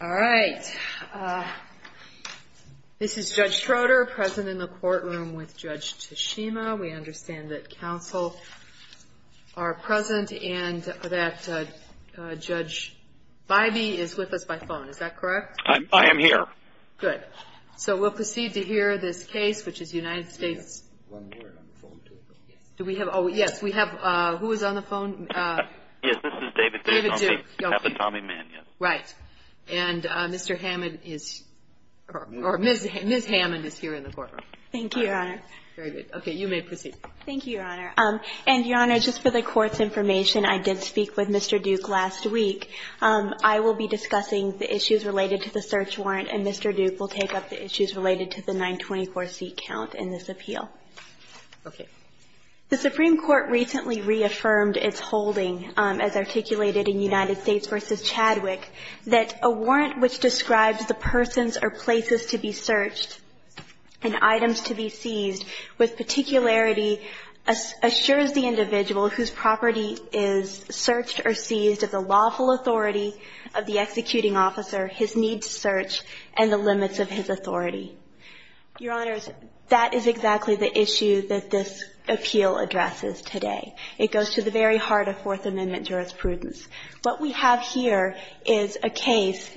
All right. This is Judge Schroeder present in the courtroom with Judge Tashima. We understand that counsel are present and that Judge Bybee is with us by phone. Is that correct? I am here. Good. So we'll proceed to hear this case, which is United States... We have one more on the phone, too. Do we have... Oh, yes, we have... Who is on the phone? Yes, this is David Duke. David Duke. Captain Tommy Mann, yes. Right. And Mr. Hammond is... Or Ms. Hammond is here in the courtroom. Thank you, Your Honor. Very good. Okay. You may proceed. Thank you, Your Honor. And, Your Honor, just for the Court's information, I did speak with Mr. Duke last week. I will be discussing the issues related to the search warrant, and Mr. Duke will take up the issues related to the 924 seat count in this appeal. Okay. The Supreme Court recently reaffirmed its holding, as articulated in United States v. Chadwick, that a warrant which describes the persons or places to be searched and items to be seized with particularity assures the individual whose property is searched or seized of the lawful authority of the executing officer, his need to search, and the limits of his authority. Your Honors, that is exactly the issue that this appeal addresses today. It goes to the very heart of Fourth Amendment jurisprudence. What we have here is a case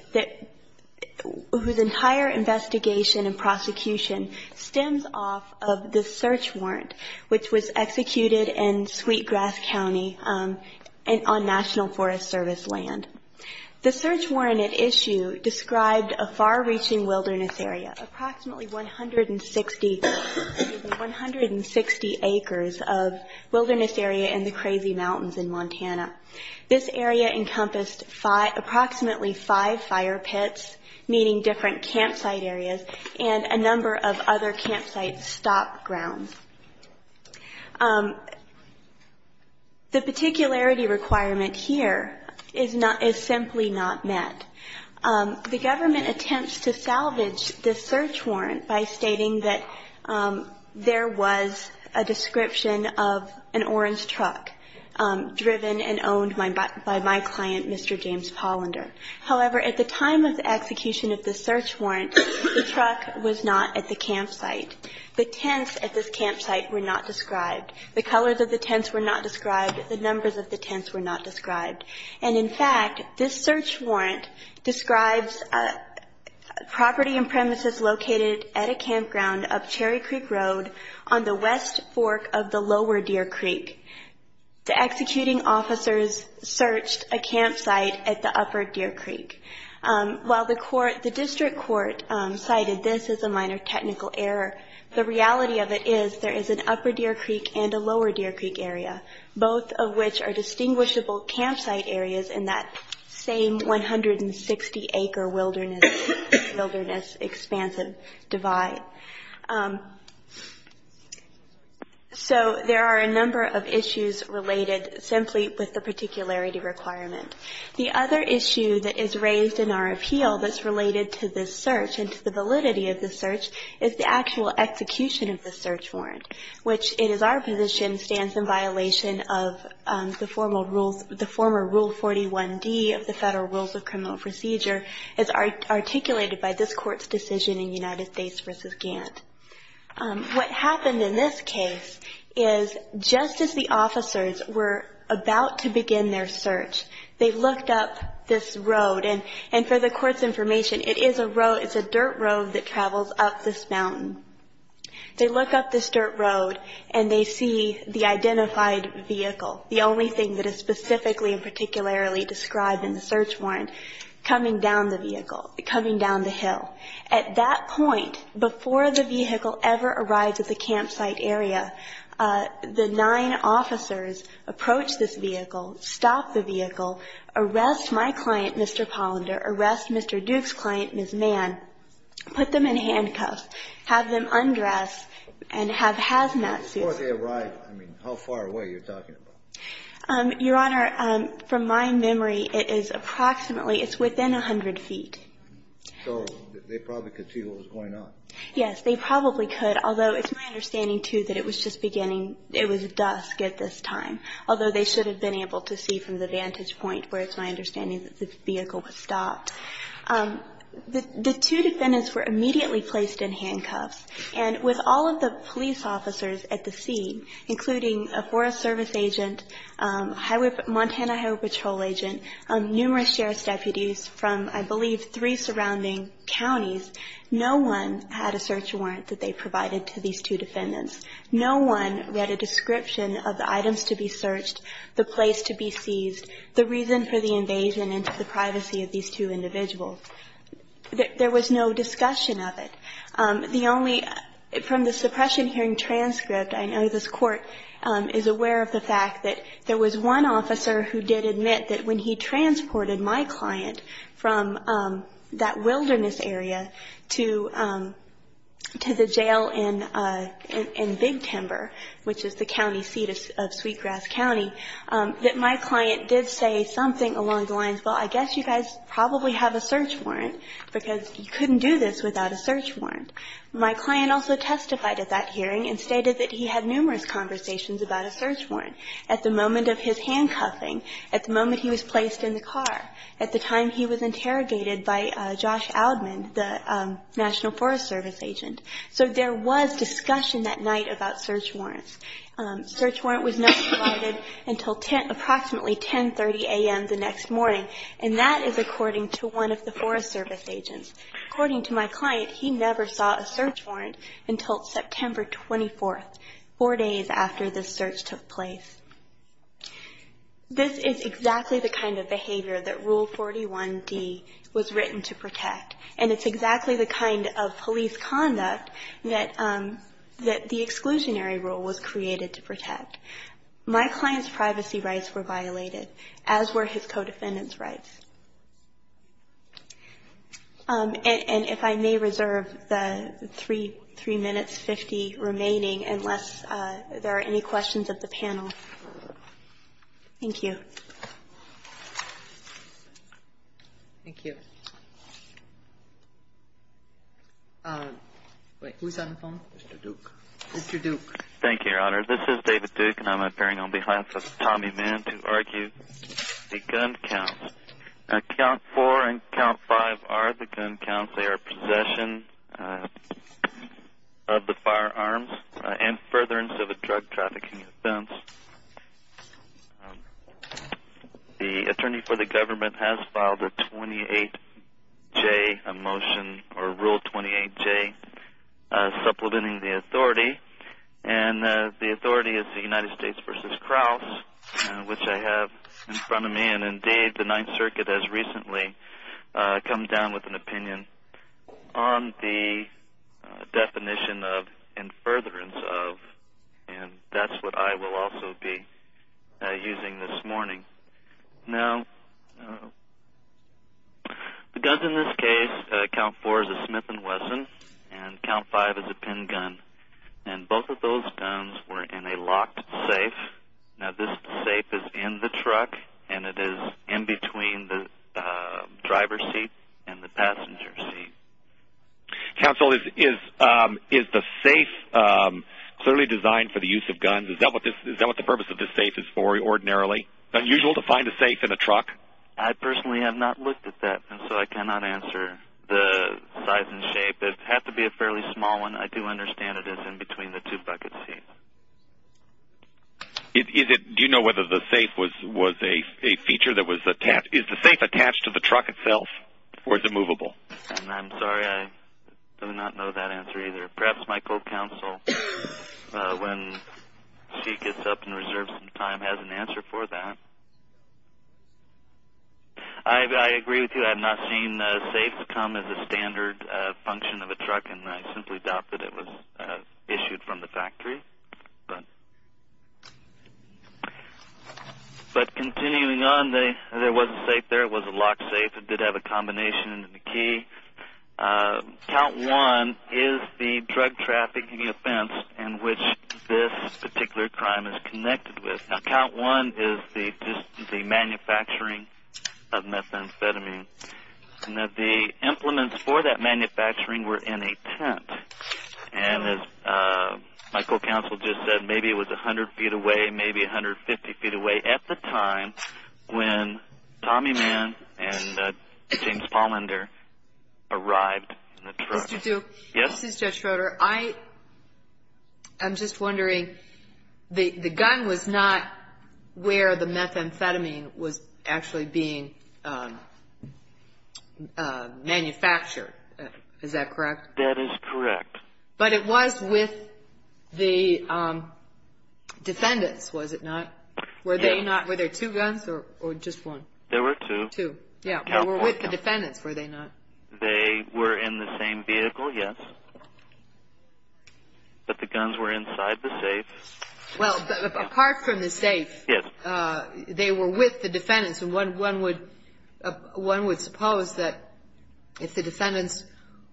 whose entire investigation and prosecution stems off of the search warrant, which was executed in Sweetgrass County on National Forest Service land. The search warrant at issue described a far-reaching wilderness area, approximately 160 acres of wilderness area in the Crazy Mountains in Montana. This area encompassed approximately five fire pits, meaning different campsite areas, and a number of other campsite stop grounds. The particularity requirement here is simply not met. The government attempts to salvage this search warrant by stating that there was a description of an orange truck driven and owned by my client, Mr. James Pollender. However, at the time of the execution of the search warrant, the truck was not at the campsite. The tents at this campsite were not described. The colors of the tents were not described. The numbers of the tents were not described. And, in fact, this search warrant describes property and premises located at a campground up Cherry Creek Road on the west fork of the Lower Deer Creek. The executing officers searched a campsite at the Upper Deer Creek. While the district court cited this as a minor technical error, the reality of it is there is an Upper Deer Creek and a Lower Deer Creek area, both of which are distinguishable campsite areas in that same 160-acre wilderness expansive divide. So there are a number of issues related simply with the particularity requirement. The other issue that is raised in our appeal that's related to this search and to the validity of this search is the actual execution of this search warrant, which in our position stands in violation of the former Rule 41D of the Federal Rules of Criminal Procedure as articulated by this Court's decision in United States v. Gantt. What happened in this case is just as the officers were about to begin their search, they looked up this road. And for the Court's information, it is a dirt road that travels up this mountain. They look up this dirt road, and they see the identified vehicle, the only thing that is specifically and particularly described in the search warrant, coming down the vehicle, coming down the hill. At that point, before the vehicle ever arrives at the campsite area, the nine officers approach this vehicle, stop the vehicle, arrest my client, Mr. Pollender, arrest Mr. Duke's client, Ms. Mann, put them in handcuffs, have them undress, and have hazmat suits on. Before they arrive, I mean, how far away are you talking about? Your Honor, from my memory, it is approximately, it's within 100 feet. So they probably could see what was going on. Yes, they probably could, although it's my understanding, too, that it was just beginning. It was dusk at this time, although they should have been able to see from the vantage point, where it's my understanding that the vehicle was stopped. The two defendants were immediately placed in handcuffs, and with all of the police officers at the scene, including a Forest Service agent, Montana Highway Patrol agent, numerous sheriff's deputies from, I believe, three surrounding counties, no one had a search warrant that they provided to these two defendants. No one read a description of the items to be searched, the place to be seized, the reason for the invasion, and the privacy of these two individuals. There was no discussion of it. The only, from the suppression hearing transcript, I know this Court is aware of the fact that there was one officer who did admit that when he transported my client from that wilderness area to the jail in Big Timber, which is the county seat of Sweetgrass County, that my client did say something along the lines, well, I guess you guys probably have a search warrant, because you couldn't do this without a search warrant. My client also testified at that hearing and stated that he had numerous conversations about a search warrant. At the moment of his handcuffing, at the moment he was placed in the car, at the time he was interrogated by Josh Aldman, the National Forest Service agent. So there was discussion that night about search warrants. Search warrant was not provided until approximately 10.30 a.m. the next morning, and that is according to one of the Forest Service agents. According to my client, he never saw a search warrant until September 24th, four days after this search took place. This is exactly the kind of behavior that Rule 41D was written to protect, and it's exactly the kind of police conduct that the exclusionary rule was created to protect. My client's privacy rights were violated, as were his co-defendant's rights. And if I may reserve the three minutes, 50 remaining, unless there are any questions of the panel. Thank you. Thank you. Wait, who's on the phone? Mr. Duke. Mr. Duke. Thank you, Your Honor. This is David Duke, and I'm appearing on behalf of Tommy Mann to argue the gun counts. Count four and count five are the gun counts. They are possession of the firearms and furtherance of a drug trafficking offense. The attorney for the government has filed a Rule 28J supplementing the authority, and the authority is the United States v. Kraus, which I have in front of me, and indeed the Ninth Circuit has recently come down with an opinion on the definition of and furtherance of, and that's what I will also be using this morning. Now, the guns in this case, count four is a Smith & Wesson, and count five is a pin gun, and both of those guns were in a locked safe. Now, this safe is in the truck, and it is in between the driver's seat and the passenger's seat. Counsel, is the safe clearly designed for the use of guns? Is that what the purpose of this safe is for ordinarily? Is it unusual to find a safe in a truck? I personally have not looked at that, and so I cannot answer the size and shape. It would have to be a fairly small one. I do understand it is in between the two bucket seats. Do you know whether the safe was a feature that was attached? Is the safe attached to the truck itself, or is it movable? I'm sorry, I do not know that answer either. Perhaps my co-counsel, when she gets up and reserves some time, has an answer for that. I agree with you. I have not seen a safe come as a standard function of a truck, and I simply doubt that it was issued from the factory. But continuing on, there was a safe there. It was a locked safe. It did have a combination key. Count one is the drug trafficking offense in which this particular crime is connected with. Count one is the manufacturing of methamphetamine. The implements for that manufacturing were in a tent, and as my co-counsel just said, maybe it was 100 feet away, maybe 150 feet away, at the time when Tommy Mann and James Pollender arrived in the truck. Mr. Duke, this is Judge Schroeder. I'm just wondering, the gun was not where the methamphetamine was actually being manufactured. Is that correct? That is correct. But it was with the defendants, was it not? Were there two guns or just one? There were two. Two, yeah. With the defendants, were they not? They were in the same vehicle, yes. But the guns were inside the safe. Well, apart from the safe, they were with the defendants, and one would suppose that if the defendants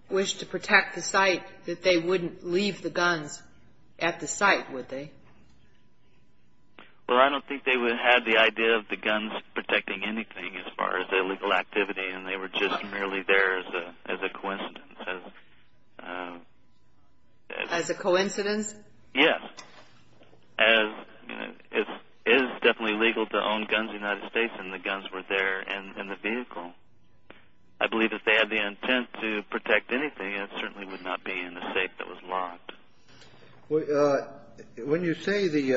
wished to protect the site, that they wouldn't leave the guns at the site, would they? Well, I don't think they would have the idea of the guns protecting anything as far as illegal activity, and they were just merely there as a coincidence. As a coincidence? Yes, as it is definitely legal to own guns in the United States, and the guns were there in the vehicle. I believe if they had the intent to protect anything, When you say the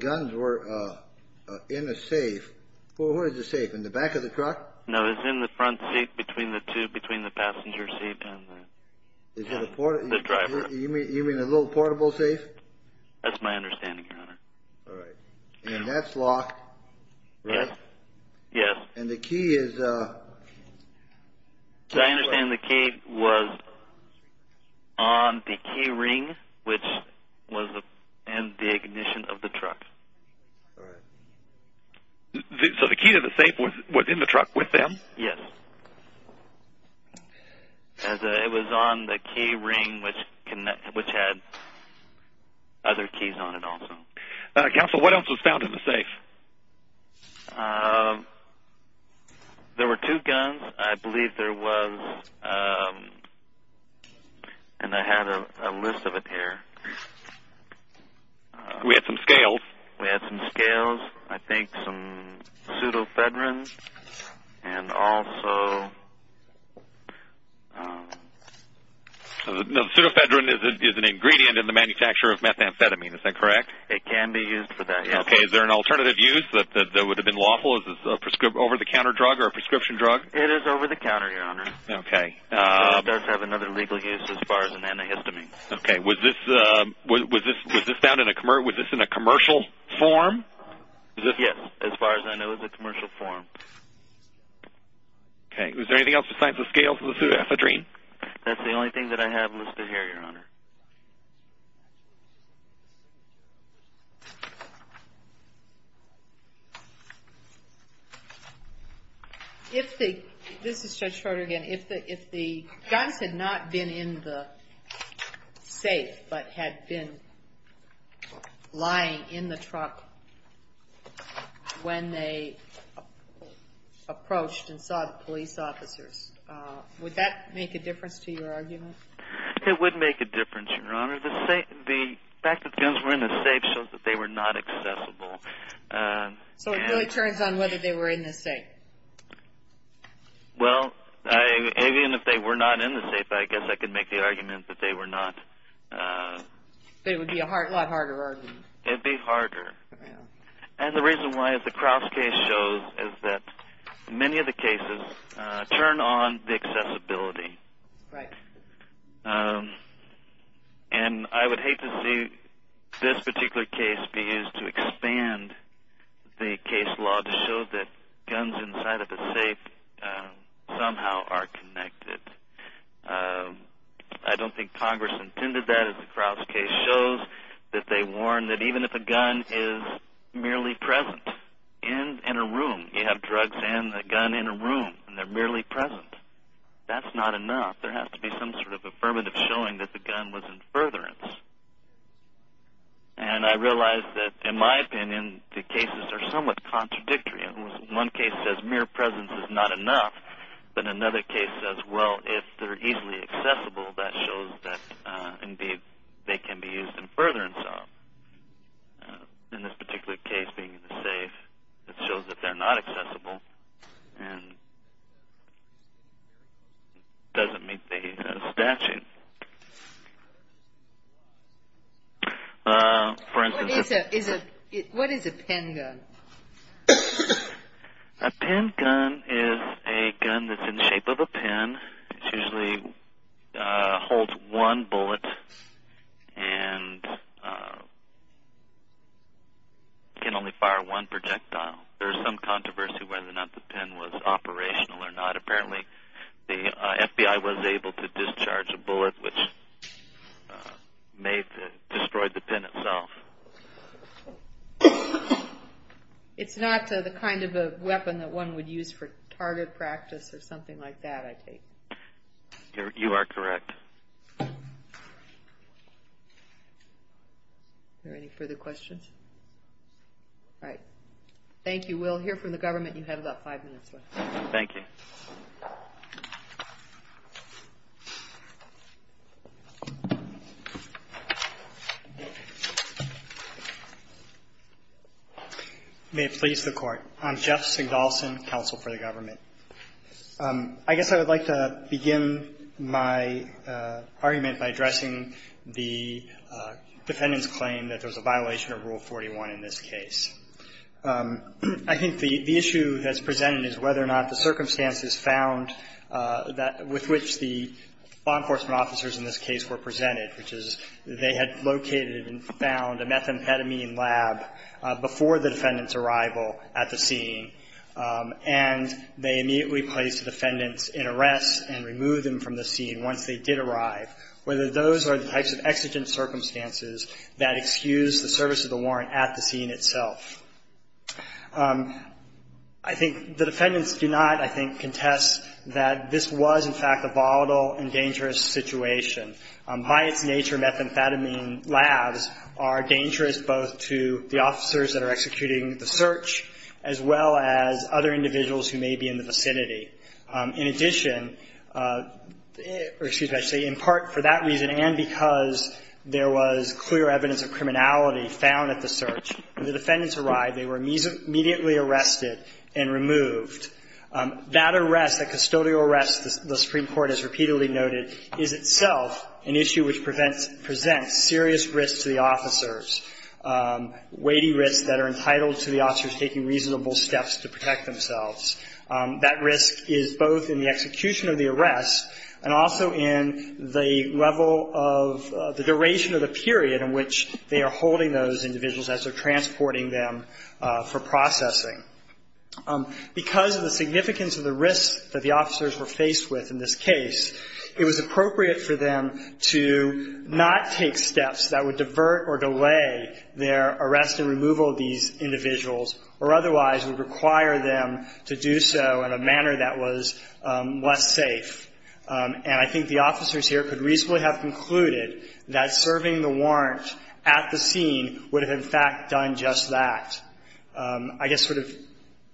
guns were in a safe, what is a safe, in the back of the truck? No, it's in the front seat between the two, between the passenger seat and the driver. You mean a little portable safe? That's my understanding, Your Honor. All right. And that's locked, right? Yes. And the key is? As I understand, the key was on the key ring, which was in the ignition of the truck. All right. So the key to the safe was in the truck with them? Yes. It was on the key ring, which had other keys on it also. Counsel, what else was found in the safe? There were two guns. I believe there was, and I had a list of it here. We had some scales. We had some scales. I think some pseudofedrin and also... Pseudofedrin is an ingredient in the manufacture of methamphetamine. Is that correct? It can be used for that, yes. Okay. Is there an alternative use that would have been lawful? Is it an over-the-counter drug or a prescription drug? It is over-the-counter, Your Honor. Okay. It does have another legal use as far as an antihistamine. Okay. Was this found in a commercial form? Yes. As far as I know, it was a commercial form. Okay. Was there anything else besides the scales and the pseudofedrin? That's the only thing that I have listed here, Your Honor. This is Judge Schroeder again. If the guns had not been in the safe but had been lying in the truck when they approached and saw the police officers, would that make a difference to your argument? It would make a difference, Your Honor. The fact that the guns were in the safe shows that they were not accessible. So it really turns on whether they were in the safe? Well, even if they were not in the safe, I guess I could make the argument that they were not. But it would be a lot harder argument. It would be harder. And the reason why, as the Crouse case shows, is that many of the cases turn on the accessibility. Right. And I would hate to see this particular case be used to expand the case law to show that guns inside of a safe somehow are connected. I don't think Congress intended that. Because the Crouse case shows that they warn that even if a gun is merely present in a room, you have drugs and a gun in a room, and they're merely present, that's not enough. There has to be some sort of affirmative showing that the gun was in furtherance. And I realize that, in my opinion, the cases are somewhat contradictory. One case says mere presence is not enough, but another case says, well, if they're easily accessible, that shows that, indeed, they can be used in furtherance. In this particular case, being in the safe, it shows that they're not accessible and doesn't meet the statute. What is a pen gun? A pen gun is a gun that's in the shape of a pen. It usually holds one bullet and can only fire one projectile. There is some controversy whether or not the pen was operational or not. Apparently the FBI was able to discharge a bullet which destroyed the pen itself. It's not the kind of weapon that one would use for target practice or something like that, I take. You are correct. Are there any further questions? All right. Thank you. We'll hear from the government. You have about five minutes left. Thank you. May it please the Court. I'm Jeff Sigdolson, counsel for the government. I guess I would like to begin my argument by addressing the defendant's claim that there's a violation of Rule 41 in this case. I think the issue that's presented is whether or not the circumstances found with which the law enforcement officers in this case were presented, which is they had located and found a methamphetamine lab before the defendant's arrival at the scene, and they immediately placed the defendants in arrest and removed them from the scene once they did arrive, whether those are the types of exigent circumstances that excuse the service of the warrant at the scene itself. I think the defendants do not, I think, contest that this was, in fact, a volatile and dangerous situation. By its nature, methamphetamine labs are dangerous both to the officers that are executing the search as well as other individuals who may be in the vicinity. In addition, or excuse me, I should say in part for that reason and because there was clear evidence of criminality found at the search, when the defendants arrived, they were immediately arrested and removed. That arrest, that custodial arrest, the Supreme Court has repeatedly noted, is itself an issue which presents serious risks to the officers, weighty risks that are entitled to the officers taking reasonable steps to protect themselves. That risk is both in the execution of the arrest and also in the level of the duration of the period in which they are holding those individuals as they're transporting them for processing. Because of the significance of the risks that the officers were faced with in this case, it was appropriate for them to not take steps that would divert or delay their arrest, but would require them to do so in a manner that was less safe. And I think the officers here could reasonably have concluded that serving the warrant at the scene would have, in fact, done just that. I guess sort of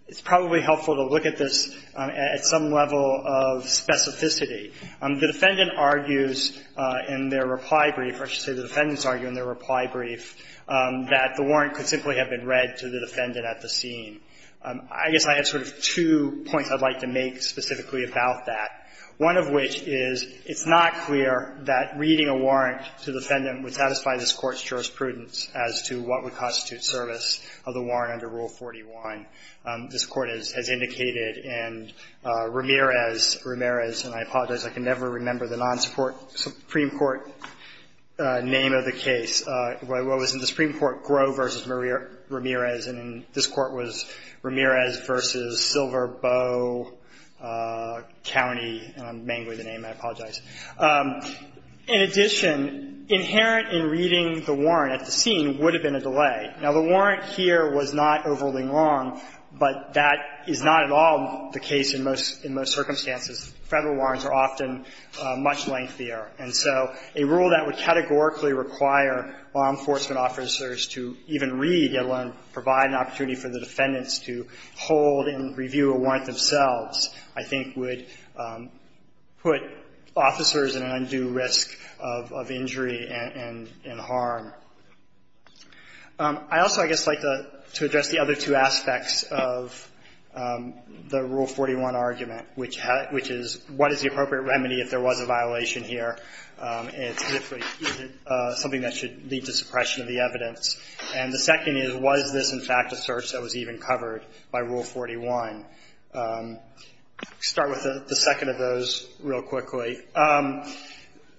it's probably helpful to look at this at some level of specificity. The defendant argues in their reply brief, or I should say the defendants argue in their reply brief, that the warrant could simply have been read to the defendant at the scene. I guess I have sort of two points I'd like to make specifically about that, one of which is it's not clear that reading a warrant to the defendant would satisfy this Court's jurisprudence as to what would constitute service of the warrant under Rule 41. This Court has indicated, and Ramirez, Ramirez, and I apologize, I can never remember the non-Supreme Court name of the case. It was in the Supreme Court, Groh v. Ramirez, and this Court was Ramirez v. Silver, Bow, County, and I'm mangling the name. I apologize. In addition, inherent in reading the warrant at the scene would have been a delay. Now, the warrant here was not overruling Long, but that is not at all the case in most circumstances. Federal warrants are often much lengthier, and so a rule that would categorically require law enforcement officers to even read, let alone provide an opportunity for the defendants to hold and review a warrant themselves, I think would put officers at an undue risk of injury and harm. I also, I guess, like to address the other two aspects of the Rule 41 argument, which is what is the appropriate remedy if there was a violation here, and specifically is it something that should lead to suppression of the evidence. And the second is was this, in fact, a search that was even covered by Rule 41. I'll start with the second of those real quickly.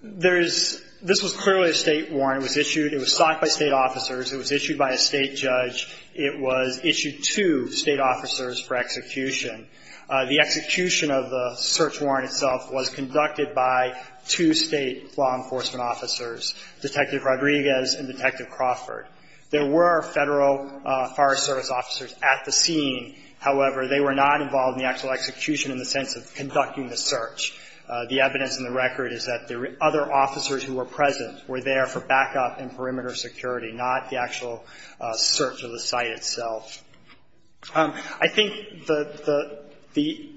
There is, this was clearly a State warrant. It was issued, it was sought by State officers. It was issued by a State judge. It was issued to State officers for execution. The execution of the search warrant itself was conducted by two State law enforcement officers, Detective Rodriguez and Detective Crawford. There were Federal Fire Service officers at the scene. However, they were not involved in the actual execution in the sense of conducting the search. The evidence in the record is that the other officers who were present were there for backup and perimeter security, not the actual search of the site itself. I think the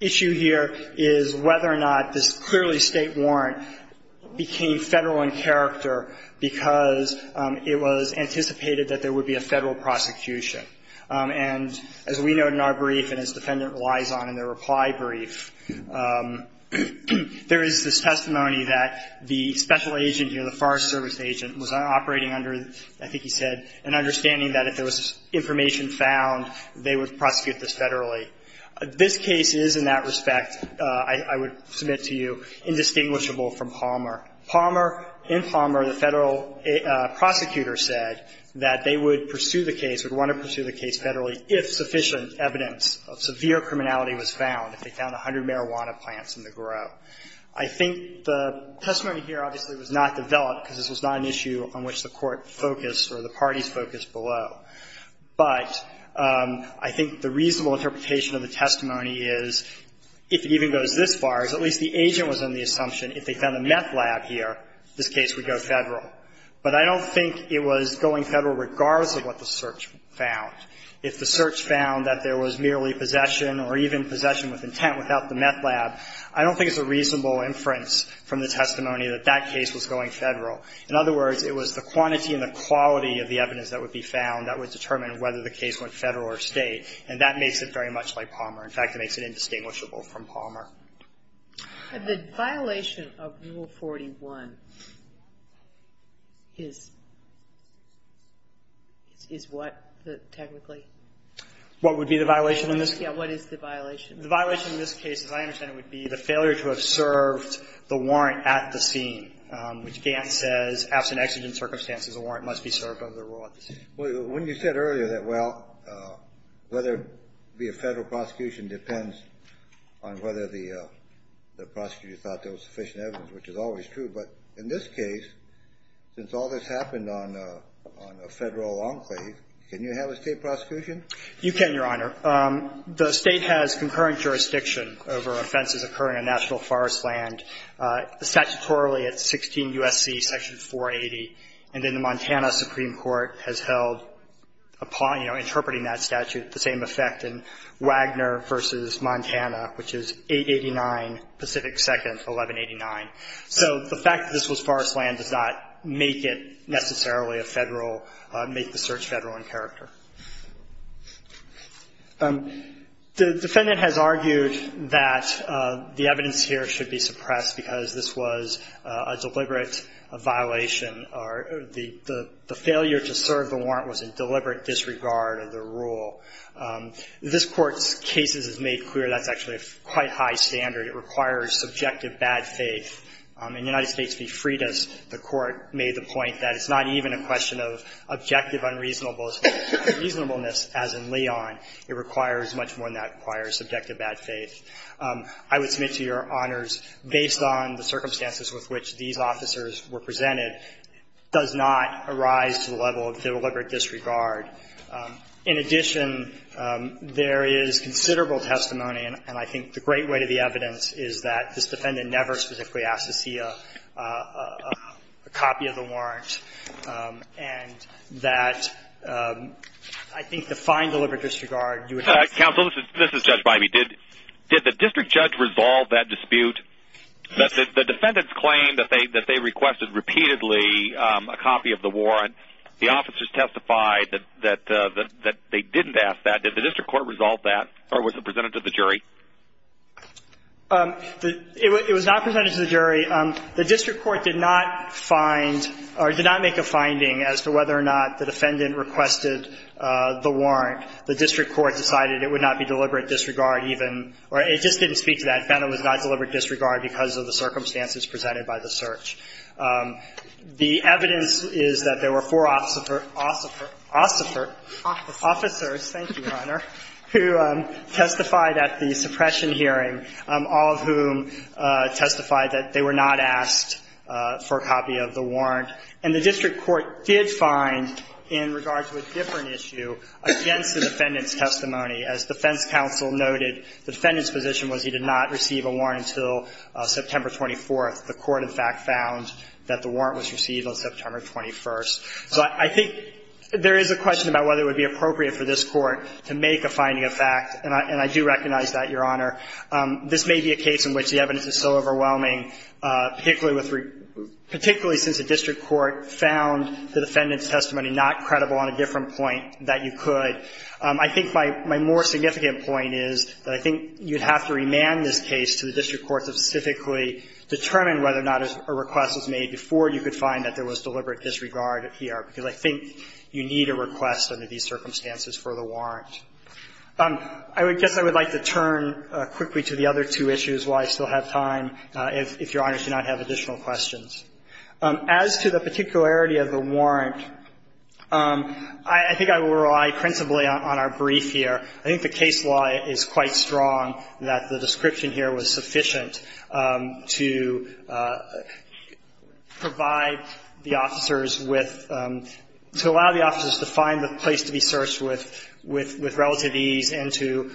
issue here is whether or not this clearly State warrant became Federal in character because it was anticipated that there would be a Federal prosecution. And as we know in our brief and as the defendant relies on in their reply brief, there is this testimony that the special agent here, the Forest Service agent, was operating under, I think he said, an understanding that if there was information found, they would prosecute this Federally. This case is in that respect, I would submit to you, indistinguishable from Palmer. Palmer, in Palmer, the Federal prosecutor said that they would pursue the case, would want to pursue the case Federally if sufficient evidence of severe criminality was found, if they found 100 marijuana plants in the grove. I think the testimony here obviously was not developed because this was not an issue on which the Court focused or the parties focused below. But I think the reasonable interpretation of the testimony is, if it even goes this far, is at least the agent was under the assumption if they found a meth lab here, this case would go Federal. But I don't think it was going Federal regardless of what the search found. If the search found that there was merely possession or even possession with intent without the meth lab, I don't think it's a reasonable inference from the testimony that that case was going Federal. In other words, it was the quantity and the quality of the evidence that would be found that would determine whether the case went Federal or State. And that makes it very much like Palmer. In fact, it makes it indistinguishable from Palmer. And the violation of Rule 41 is what, technically? What would be the violation in this case? Yeah, what is the violation? The violation in this case, as I understand it, would be the failure to have served the warrant at the scene, which Gant says, absent exigent circumstances, a warrant must be served under the rule at the scene. Well, when you said earlier that, well, whether it be a Federal prosecution depends on whether the prosecutor thought there was sufficient evidence, which is always true. But in this case, since all this happened on a Federal enclave, can you have a State prosecution? You can, Your Honor. The State has concurrent jurisdiction over offenses occurring on national forest land. Statutorily, it's 16 U.S.C. Section 480. And then the Montana Supreme Court has held, you know, interpreting that statute the same effect in Wagner v. Montana, which is 889 Pacific 2nd, 1189. So the fact that this was forest land does not make it necessarily a Federal make the search Federal in character. The defendant has argued that the evidence here should be suppressed because this was a deliberate violation or the failure to serve the warrant was in deliberate disregard of the rule. This Court's cases is made clear that's actually a quite high standard. It requires subjective bad faith. In United States v. Freitas, the Court made the point that it's not even a question of objective unreasonableness as in Leon. It requires much more than that. It requires subjective bad faith. I would submit to Your Honors, based on the circumstances with which these officers were presented, it does not arise to the level of deliberate disregard. In addition, there is considerable testimony, and I think the great way to the evidence is that this defendant never specifically asked to see a copy of the warrant, and that I think the fine deliberate disregard. Counsel, this is Judge Bybee. Did the district judge resolve that dispute? The defendants claimed that they requested repeatedly a copy of the warrant. The officers testified that they didn't ask that. Did the district court resolve that, or was it presented to the jury? It was not presented to the jury. The district court did not find or did not make a finding as to whether or not the defendant requested the warrant. The district court decided it would not be deliberate disregard even, or it just didn't speak to that. It found it was not deliberate disregard because of the circumstances presented by the search. The evidence is that there were four officers, thank you, Your Honor, who testified at the suppression hearing, all of whom testified that they were not asked for a copy of the warrant. And the district court did find, in regard to a different issue, against the defendant's testimony. As defense counsel noted, the defendant's position was he did not receive a warrant until September 24th. The court, in fact, found that the warrant was received on September 21st. So I think there is a question about whether it would be appropriate for this Court to make a finding of fact. And I do recognize that, Your Honor. This may be a case in which the evidence is so overwhelming, particularly since the district court found the defendant's testimony not credible on a different point that you could. I think my more significant point is that I think you would have to remand this case to the district court to specifically determine whether or not a request was made before you could find that there was deliberate disregard here, because I think you need a request under these circumstances for the warrant. I guess I would like to turn quickly to the other two issues while I still have time, if Your Honor should not have additional questions. As to the particularity of the warrant, I think I will rely principally on our brief here. I think the case law is quite strong that the description here was sufficient to provide the officers with – to allow the officers to find the place to be searched with relative ease and to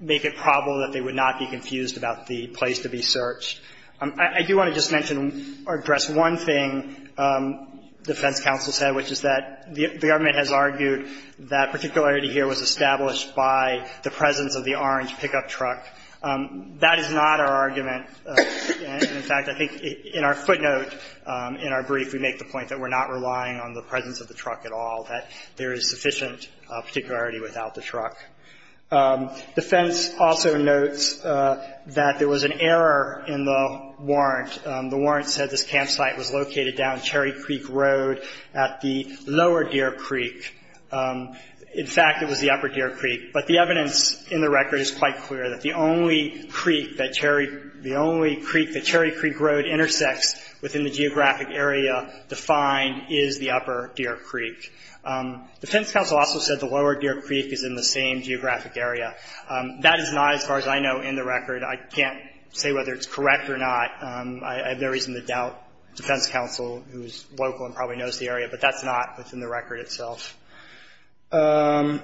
make it probable that they would not be confused about the place to be searched. I do want to just mention or address one thing defense counsel said, which is that the government has argued that particularity here was established by the presence of the orange pickup truck. That is not our argument. In fact, I think in our footnote in our brief, we make the point that we're not relying on the presence of the truck at all, that there is sufficient particularity without the truck. Defense also notes that there was an error in the warrant. The warrant said this campsite was located down Cherry Creek Road at the lower Deer Creek. In fact, it was the upper Deer Creek. But the evidence in the record is quite clear that the only creek that Cherry Creek Road intersects within the geographic area defined is the upper Deer Creek. Defense counsel also said the lower Deer Creek is in the same geographic area. That is not, as far as I know, in the record. I can't say whether it's correct or not. I have no reason to doubt defense counsel, who is local and probably knows the area, but that's not within the record itself. Finally,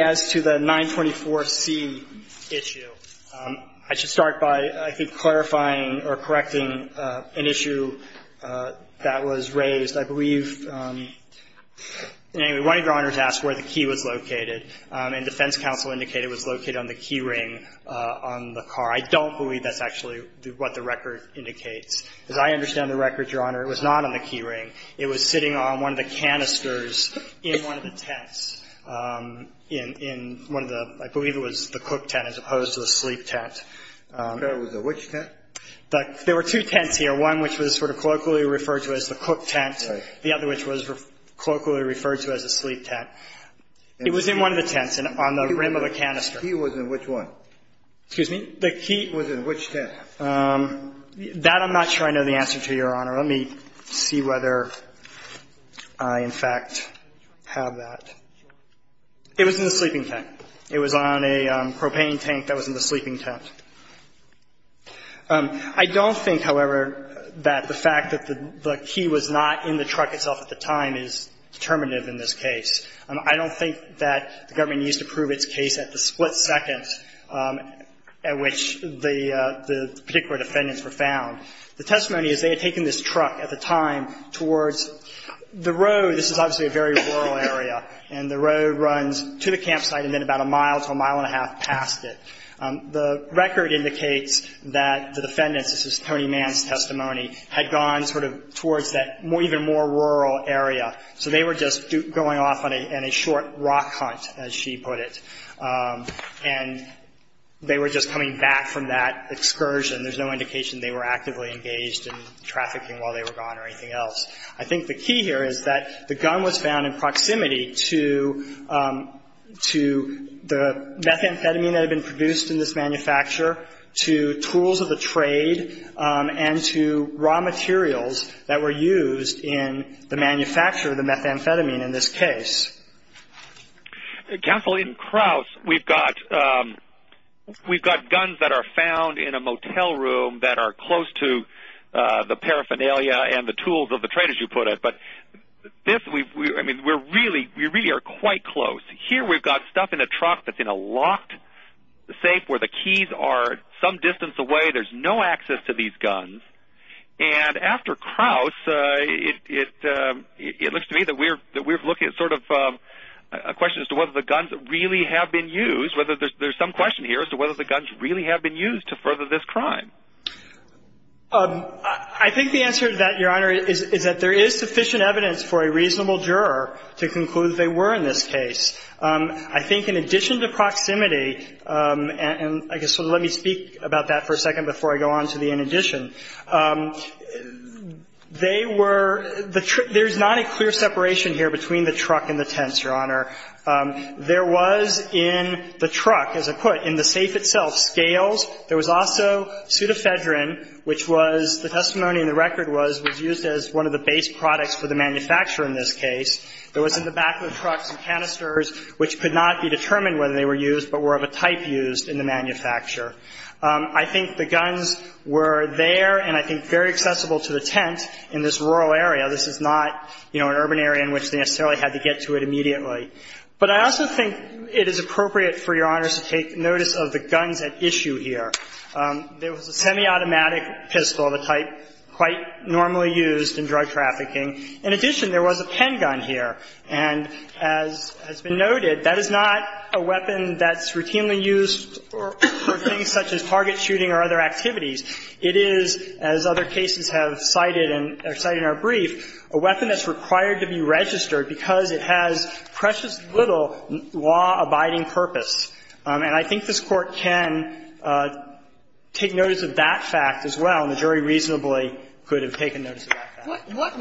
as to the 924C issue, I should start by, I think, clarifying or correcting an issue that was raised. I believe, anyway, one of Your Honors asked where the key was located, and defense counsel indicated it was located on the key ring on the car. I don't believe that's actually what the record indicates. As I understand the record, Your Honor, it was not on the key ring. It was sitting on one of the canisters in one of the tents, in one of the, I believe it was the cook tent as opposed to the sleep tent. I'm not sure it was the which tent. There were two tents here, one which was sort of colloquially referred to as the cook tent, the other which was colloquially referred to as the sleep tent. It was in one of the tents on the rim of the canister. The key was in which one? Excuse me? The key was in which tent? That I'm not sure I know the answer to, Your Honor. Let me see whether I, in fact, have that. It was in the sleeping tent. It was on a propane tank that was in the sleeping tent. I don't think, however, that the fact that the key was not in the truck itself at the time is determinative in this case. I don't think that the government needs to prove its case at the split second at which the particular defendants were found. The testimony is they had taken this truck at the time towards the road. This is obviously a very rural area. And the road runs to the campsite and then about a mile to a mile and a half past it. The record indicates that the defendants, this is Tony Mann's testimony, had gone sort of towards that even more rural area. So they were just going off on a short rock hunt, as she put it. And they were just coming back from that excursion. There's no indication they were actively engaged in trafficking while they were gone or anything else. I think the key here is that the gun was found in proximity to the methamphetamine that had been produced in this manufacture, to tools of the trade, and to raw materials that were used in the manufacture of the methamphetamine in this case. Counsel, in Kraus we've got guns that are found in a motel room that are close to the paraphernalia and the tools of the trade, as you put it. But we really are quite close. Here we've got stuff in a truck that's in a locked safe where the keys are some distance away. There's no access to these guns. And after Kraus, it looks to me that we're looking at sort of a question as to whether the guns really have been used, whether there's some question here as to whether the guns really have been used to further this crime. I think the answer to that, Your Honor, is that there is sufficient evidence for a reasonable juror to conclude they were in this case. I think in addition to proximity, and I guess let me speak about that for a second before I go on to the in addition. They were, there's not a clear separation here between the truck and the tents, Your Honor. There was in the truck, as I put it, in the safe itself, scales. There was also pseudofedrin, which was, the testimony in the record was, was used as one of the base products for the manufacturer in this case. There was in the back of the truck some canisters, which could not be determined whether they were used but were of a type used in the manufacturer. I think the guns were there and I think very accessible to the tent in this rural area. This is not, you know, an urban area in which they necessarily had to get to it immediately. But I also think it is appropriate for Your Honors to take notice of the guns at issue here. There was a semiautomatic pistol of a type quite normally used in drug trafficking. In addition, there was a pen gun here. And as has been noted, that is not a weapon that's routinely used for things such as target shooting or other activities. It is, as other cases have cited in our brief, a weapon that's required to be registered because it has precious little law-abiding purpose. And I think this Court can take notice of that fact as well, and the jury reasonably could have taken notice of that fact. What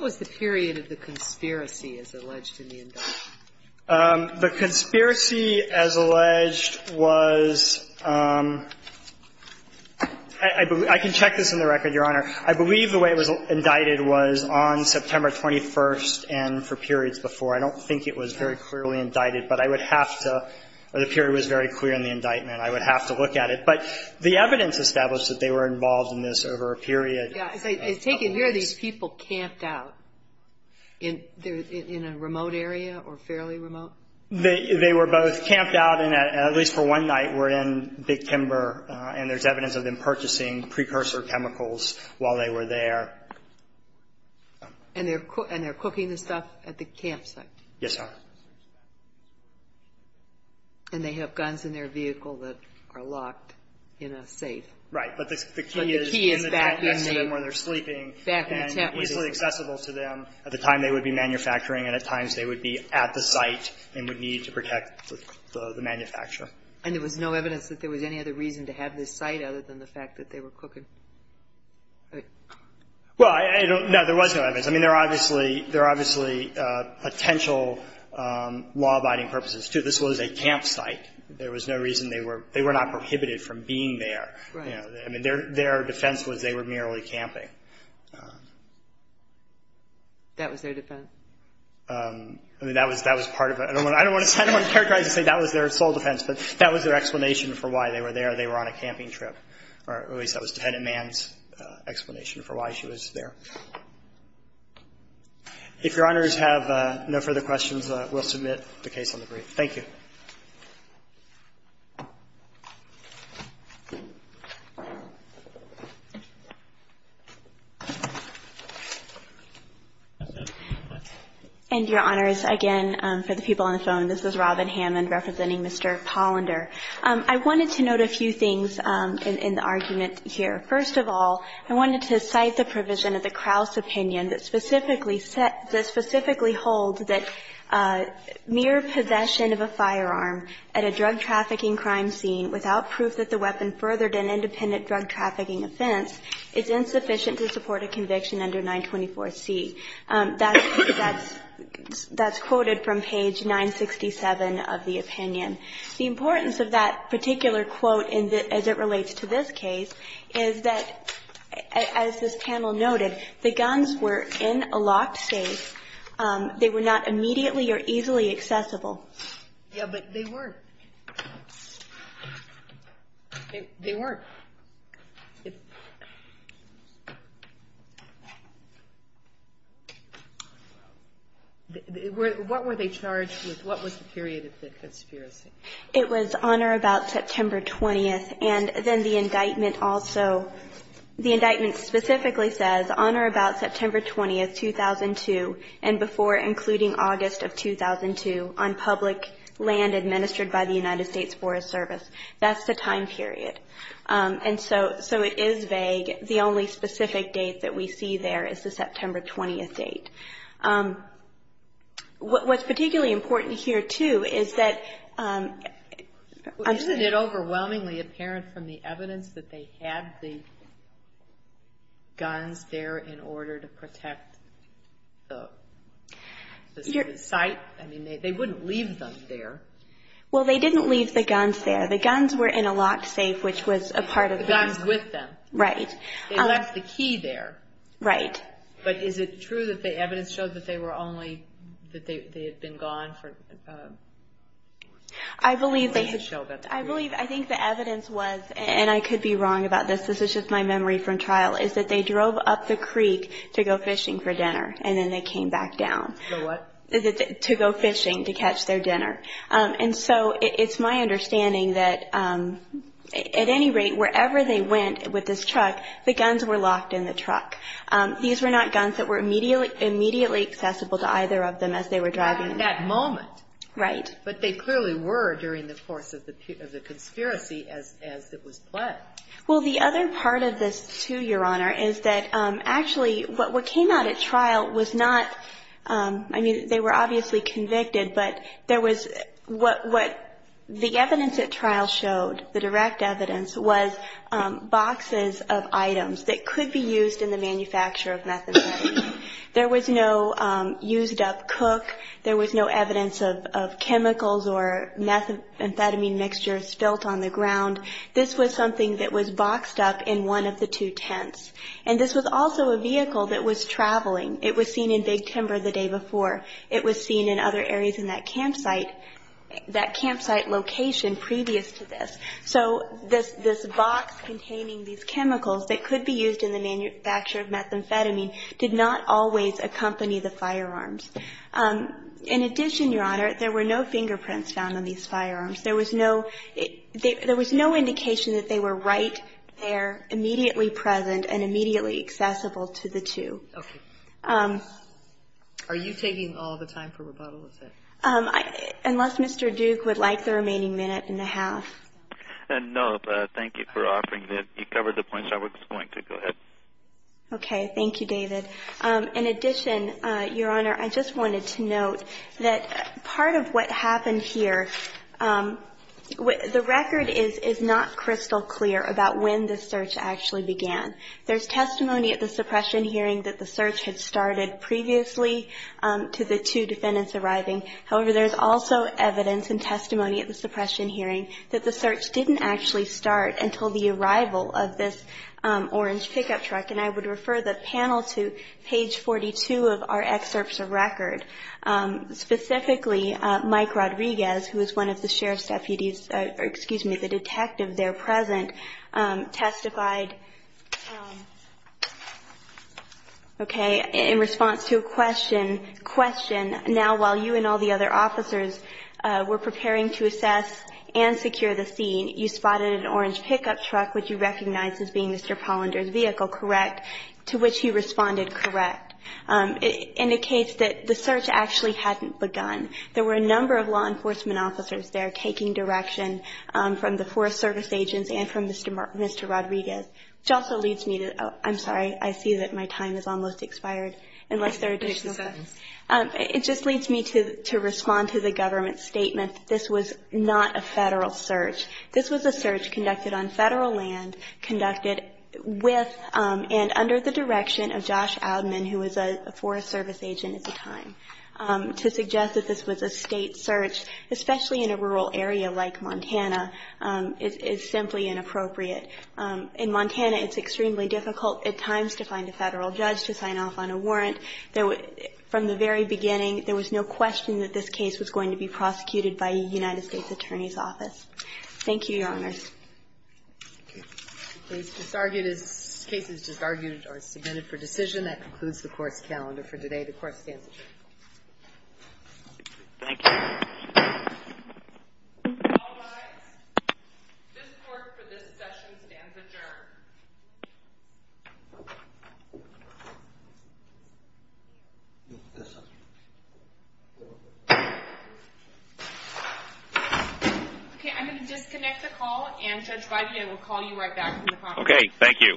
was the period of the conspiracy as alleged in the indictment? The conspiracy as alleged was – I can check this in the record, Your Honor. I believe the way it was indicted was on September 21st and for periods before. I don't think it was very clearly indicted, but I would have to – the period was very clear in the indictment. I would have to look at it. Yeah. It's taken – here are these people camped out in a remote area or fairly remote? They were both camped out and at least for one night were in Big Timber, and there's evidence of them purchasing precursor chemicals while they were there. And they're cooking the stuff at the campsite? Yes, Your Honor. And they have guns in their vehicle that are locked in a safe? Right. But the key is in the tent next to them when they're sleeping and easily accessible to them at the time they would be manufacturing and at times they would be at the site and would need to protect the manufacturer. And there was no evidence that there was any other reason to have this site other than the fact that they were cooking? Well, I don't – no, there was no evidence. I mean, there are obviously – there are obviously potential law-abiding purposes, too. This was a campsite. There was no reason they were – they were not prohibited from being there. Right. I mean, their defense was they were merely camping. That was their defense? I mean, that was part of it. I don't want to – I don't want to characterize and say that was their sole defense, but that was their explanation for why they were there. They were on a camping trip, or at least that was Defendant Mann's explanation for why she was there. If Your Honors have no further questions, we'll submit the case on the brief. Thank you. And Your Honors, again, for the people on the phone, this is Robin Hammond representing Mr. Pollender. I wanted to note a few things in the argument here. First of all, I wanted to cite the provision of the Krauss opinion that specifically holds that mere possession of a firearm at a drug-trafficking crime scene without proof that the weapon furthered an independent drug-trafficking offense is insufficient to support a conviction under 924C. That's quoted from page 967 of the opinion. The importance of that particular quote as it relates to this case is that, as this They were not immediately or easily accessible. Yeah, but they were. They were. What were they charged with? What was the period of the conspiracy? It was on or about September 20th. And then the indictment also – the indictment specifically says, on or about September 20th, 2002, and before including August of 2002, on public land administered by the United States Forest Service. That's the time period. And so it is vague. The only specific date that we see there is the September 20th date. What's particularly important here, too, is that – Isn't it overwhelmingly apparent from the evidence that they had the guns there in order to protect the site? I mean, they wouldn't leave them there. Well, they didn't leave the guns there. The guns were in a locked safe, which was a part of them. The guns with them. Right. They left the key there. Right. But is it true that the evidence showed that they were only – that they had been gone for – I believe they – I think the evidence was, and I could be wrong about this, this is just my memory from trial, is that they drove up the creek to go fishing for dinner, and then they came back down. To go what? To go fishing to catch their dinner. And so it's my understanding that, at any rate, wherever they went with this truck, the guns were locked in the truck. These were not guns that were immediately accessible to either of them as they were driving. At that moment. Right. But they clearly were during the course of the conspiracy as it was planned. Well, the other part of this, too, Your Honor, is that actually what came out at trial was not – I mean, they were obviously convicted, but there was – what the evidence at trial showed, the direct evidence, was boxes of items that could be used in the manufacture of methamphetamine. There was no used-up cook. There was no evidence of chemicals or methamphetamine mixtures spilt on the ground. This was something that was boxed up in one of the two tents. And this was also a vehicle that was traveling. It was seen in Big Timber the day before. It was seen in other areas in that campsite, that campsite location previous to this. So this box containing these chemicals that could be used in the manufacture of methamphetamine did not always accompany the firearms. In addition, Your Honor, there were no fingerprints found on these firearms. There was no – there was no indication that they were right there immediately present and immediately accessible to the two. Okay. Are you taking all the time for rebuttal with that? Unless Mr. Duke would like the remaining minute and a half. No. Thank you for offering that. You covered the points I was going to. Go ahead. Okay. Thank you, David. In addition, Your Honor, I just wanted to note that part of what happened here, the record is not crystal clear about when the search actually began. There's testimony at the suppression hearing that the search had started previously to the two defendants arriving. However, there's also evidence and testimony at the suppression hearing that the search didn't actually start until the arrival of this orange pickup truck, and I would refer the panel to page 42 of our excerpts of record. Specifically, Mike Rodriguez, who is one of the sheriff's deputies – Okay. In response to a question, question now while you and all the other officers were preparing to assess and secure the scene, you spotted an orange pickup truck, which you recognize as being Mr. Pollender's vehicle, correct, to which you responded correct. It indicates that the search actually hadn't begun. There were a number of law enforcement officers there taking direction from the I'm sorry. I see that my time has almost expired, unless there are additional questions. It just leads me to respond to the government's statement that this was not a federal search. This was a search conducted on federal land, conducted with and under the direction of Josh Adman, who was a Forest Service agent at the time. To suggest that this was a state search, especially in a rural area like Montana, is simply inappropriate. In Montana, it's extremely difficult at times to find a federal judge to sign off on a warrant. From the very beginning, there was no question that this case was going to be prosecuted by a United States attorney's office. Thank you, Your Honors. The case is disargued or submitted for decision. That concludes the Court's calendar for today. The Court stands adjourned. Thank you. All rise. This Court for this session stands adjourned. Okay, I'm going to disconnect the call, and Judge Biden, I will call you right back. Okay, thank you. Thank you.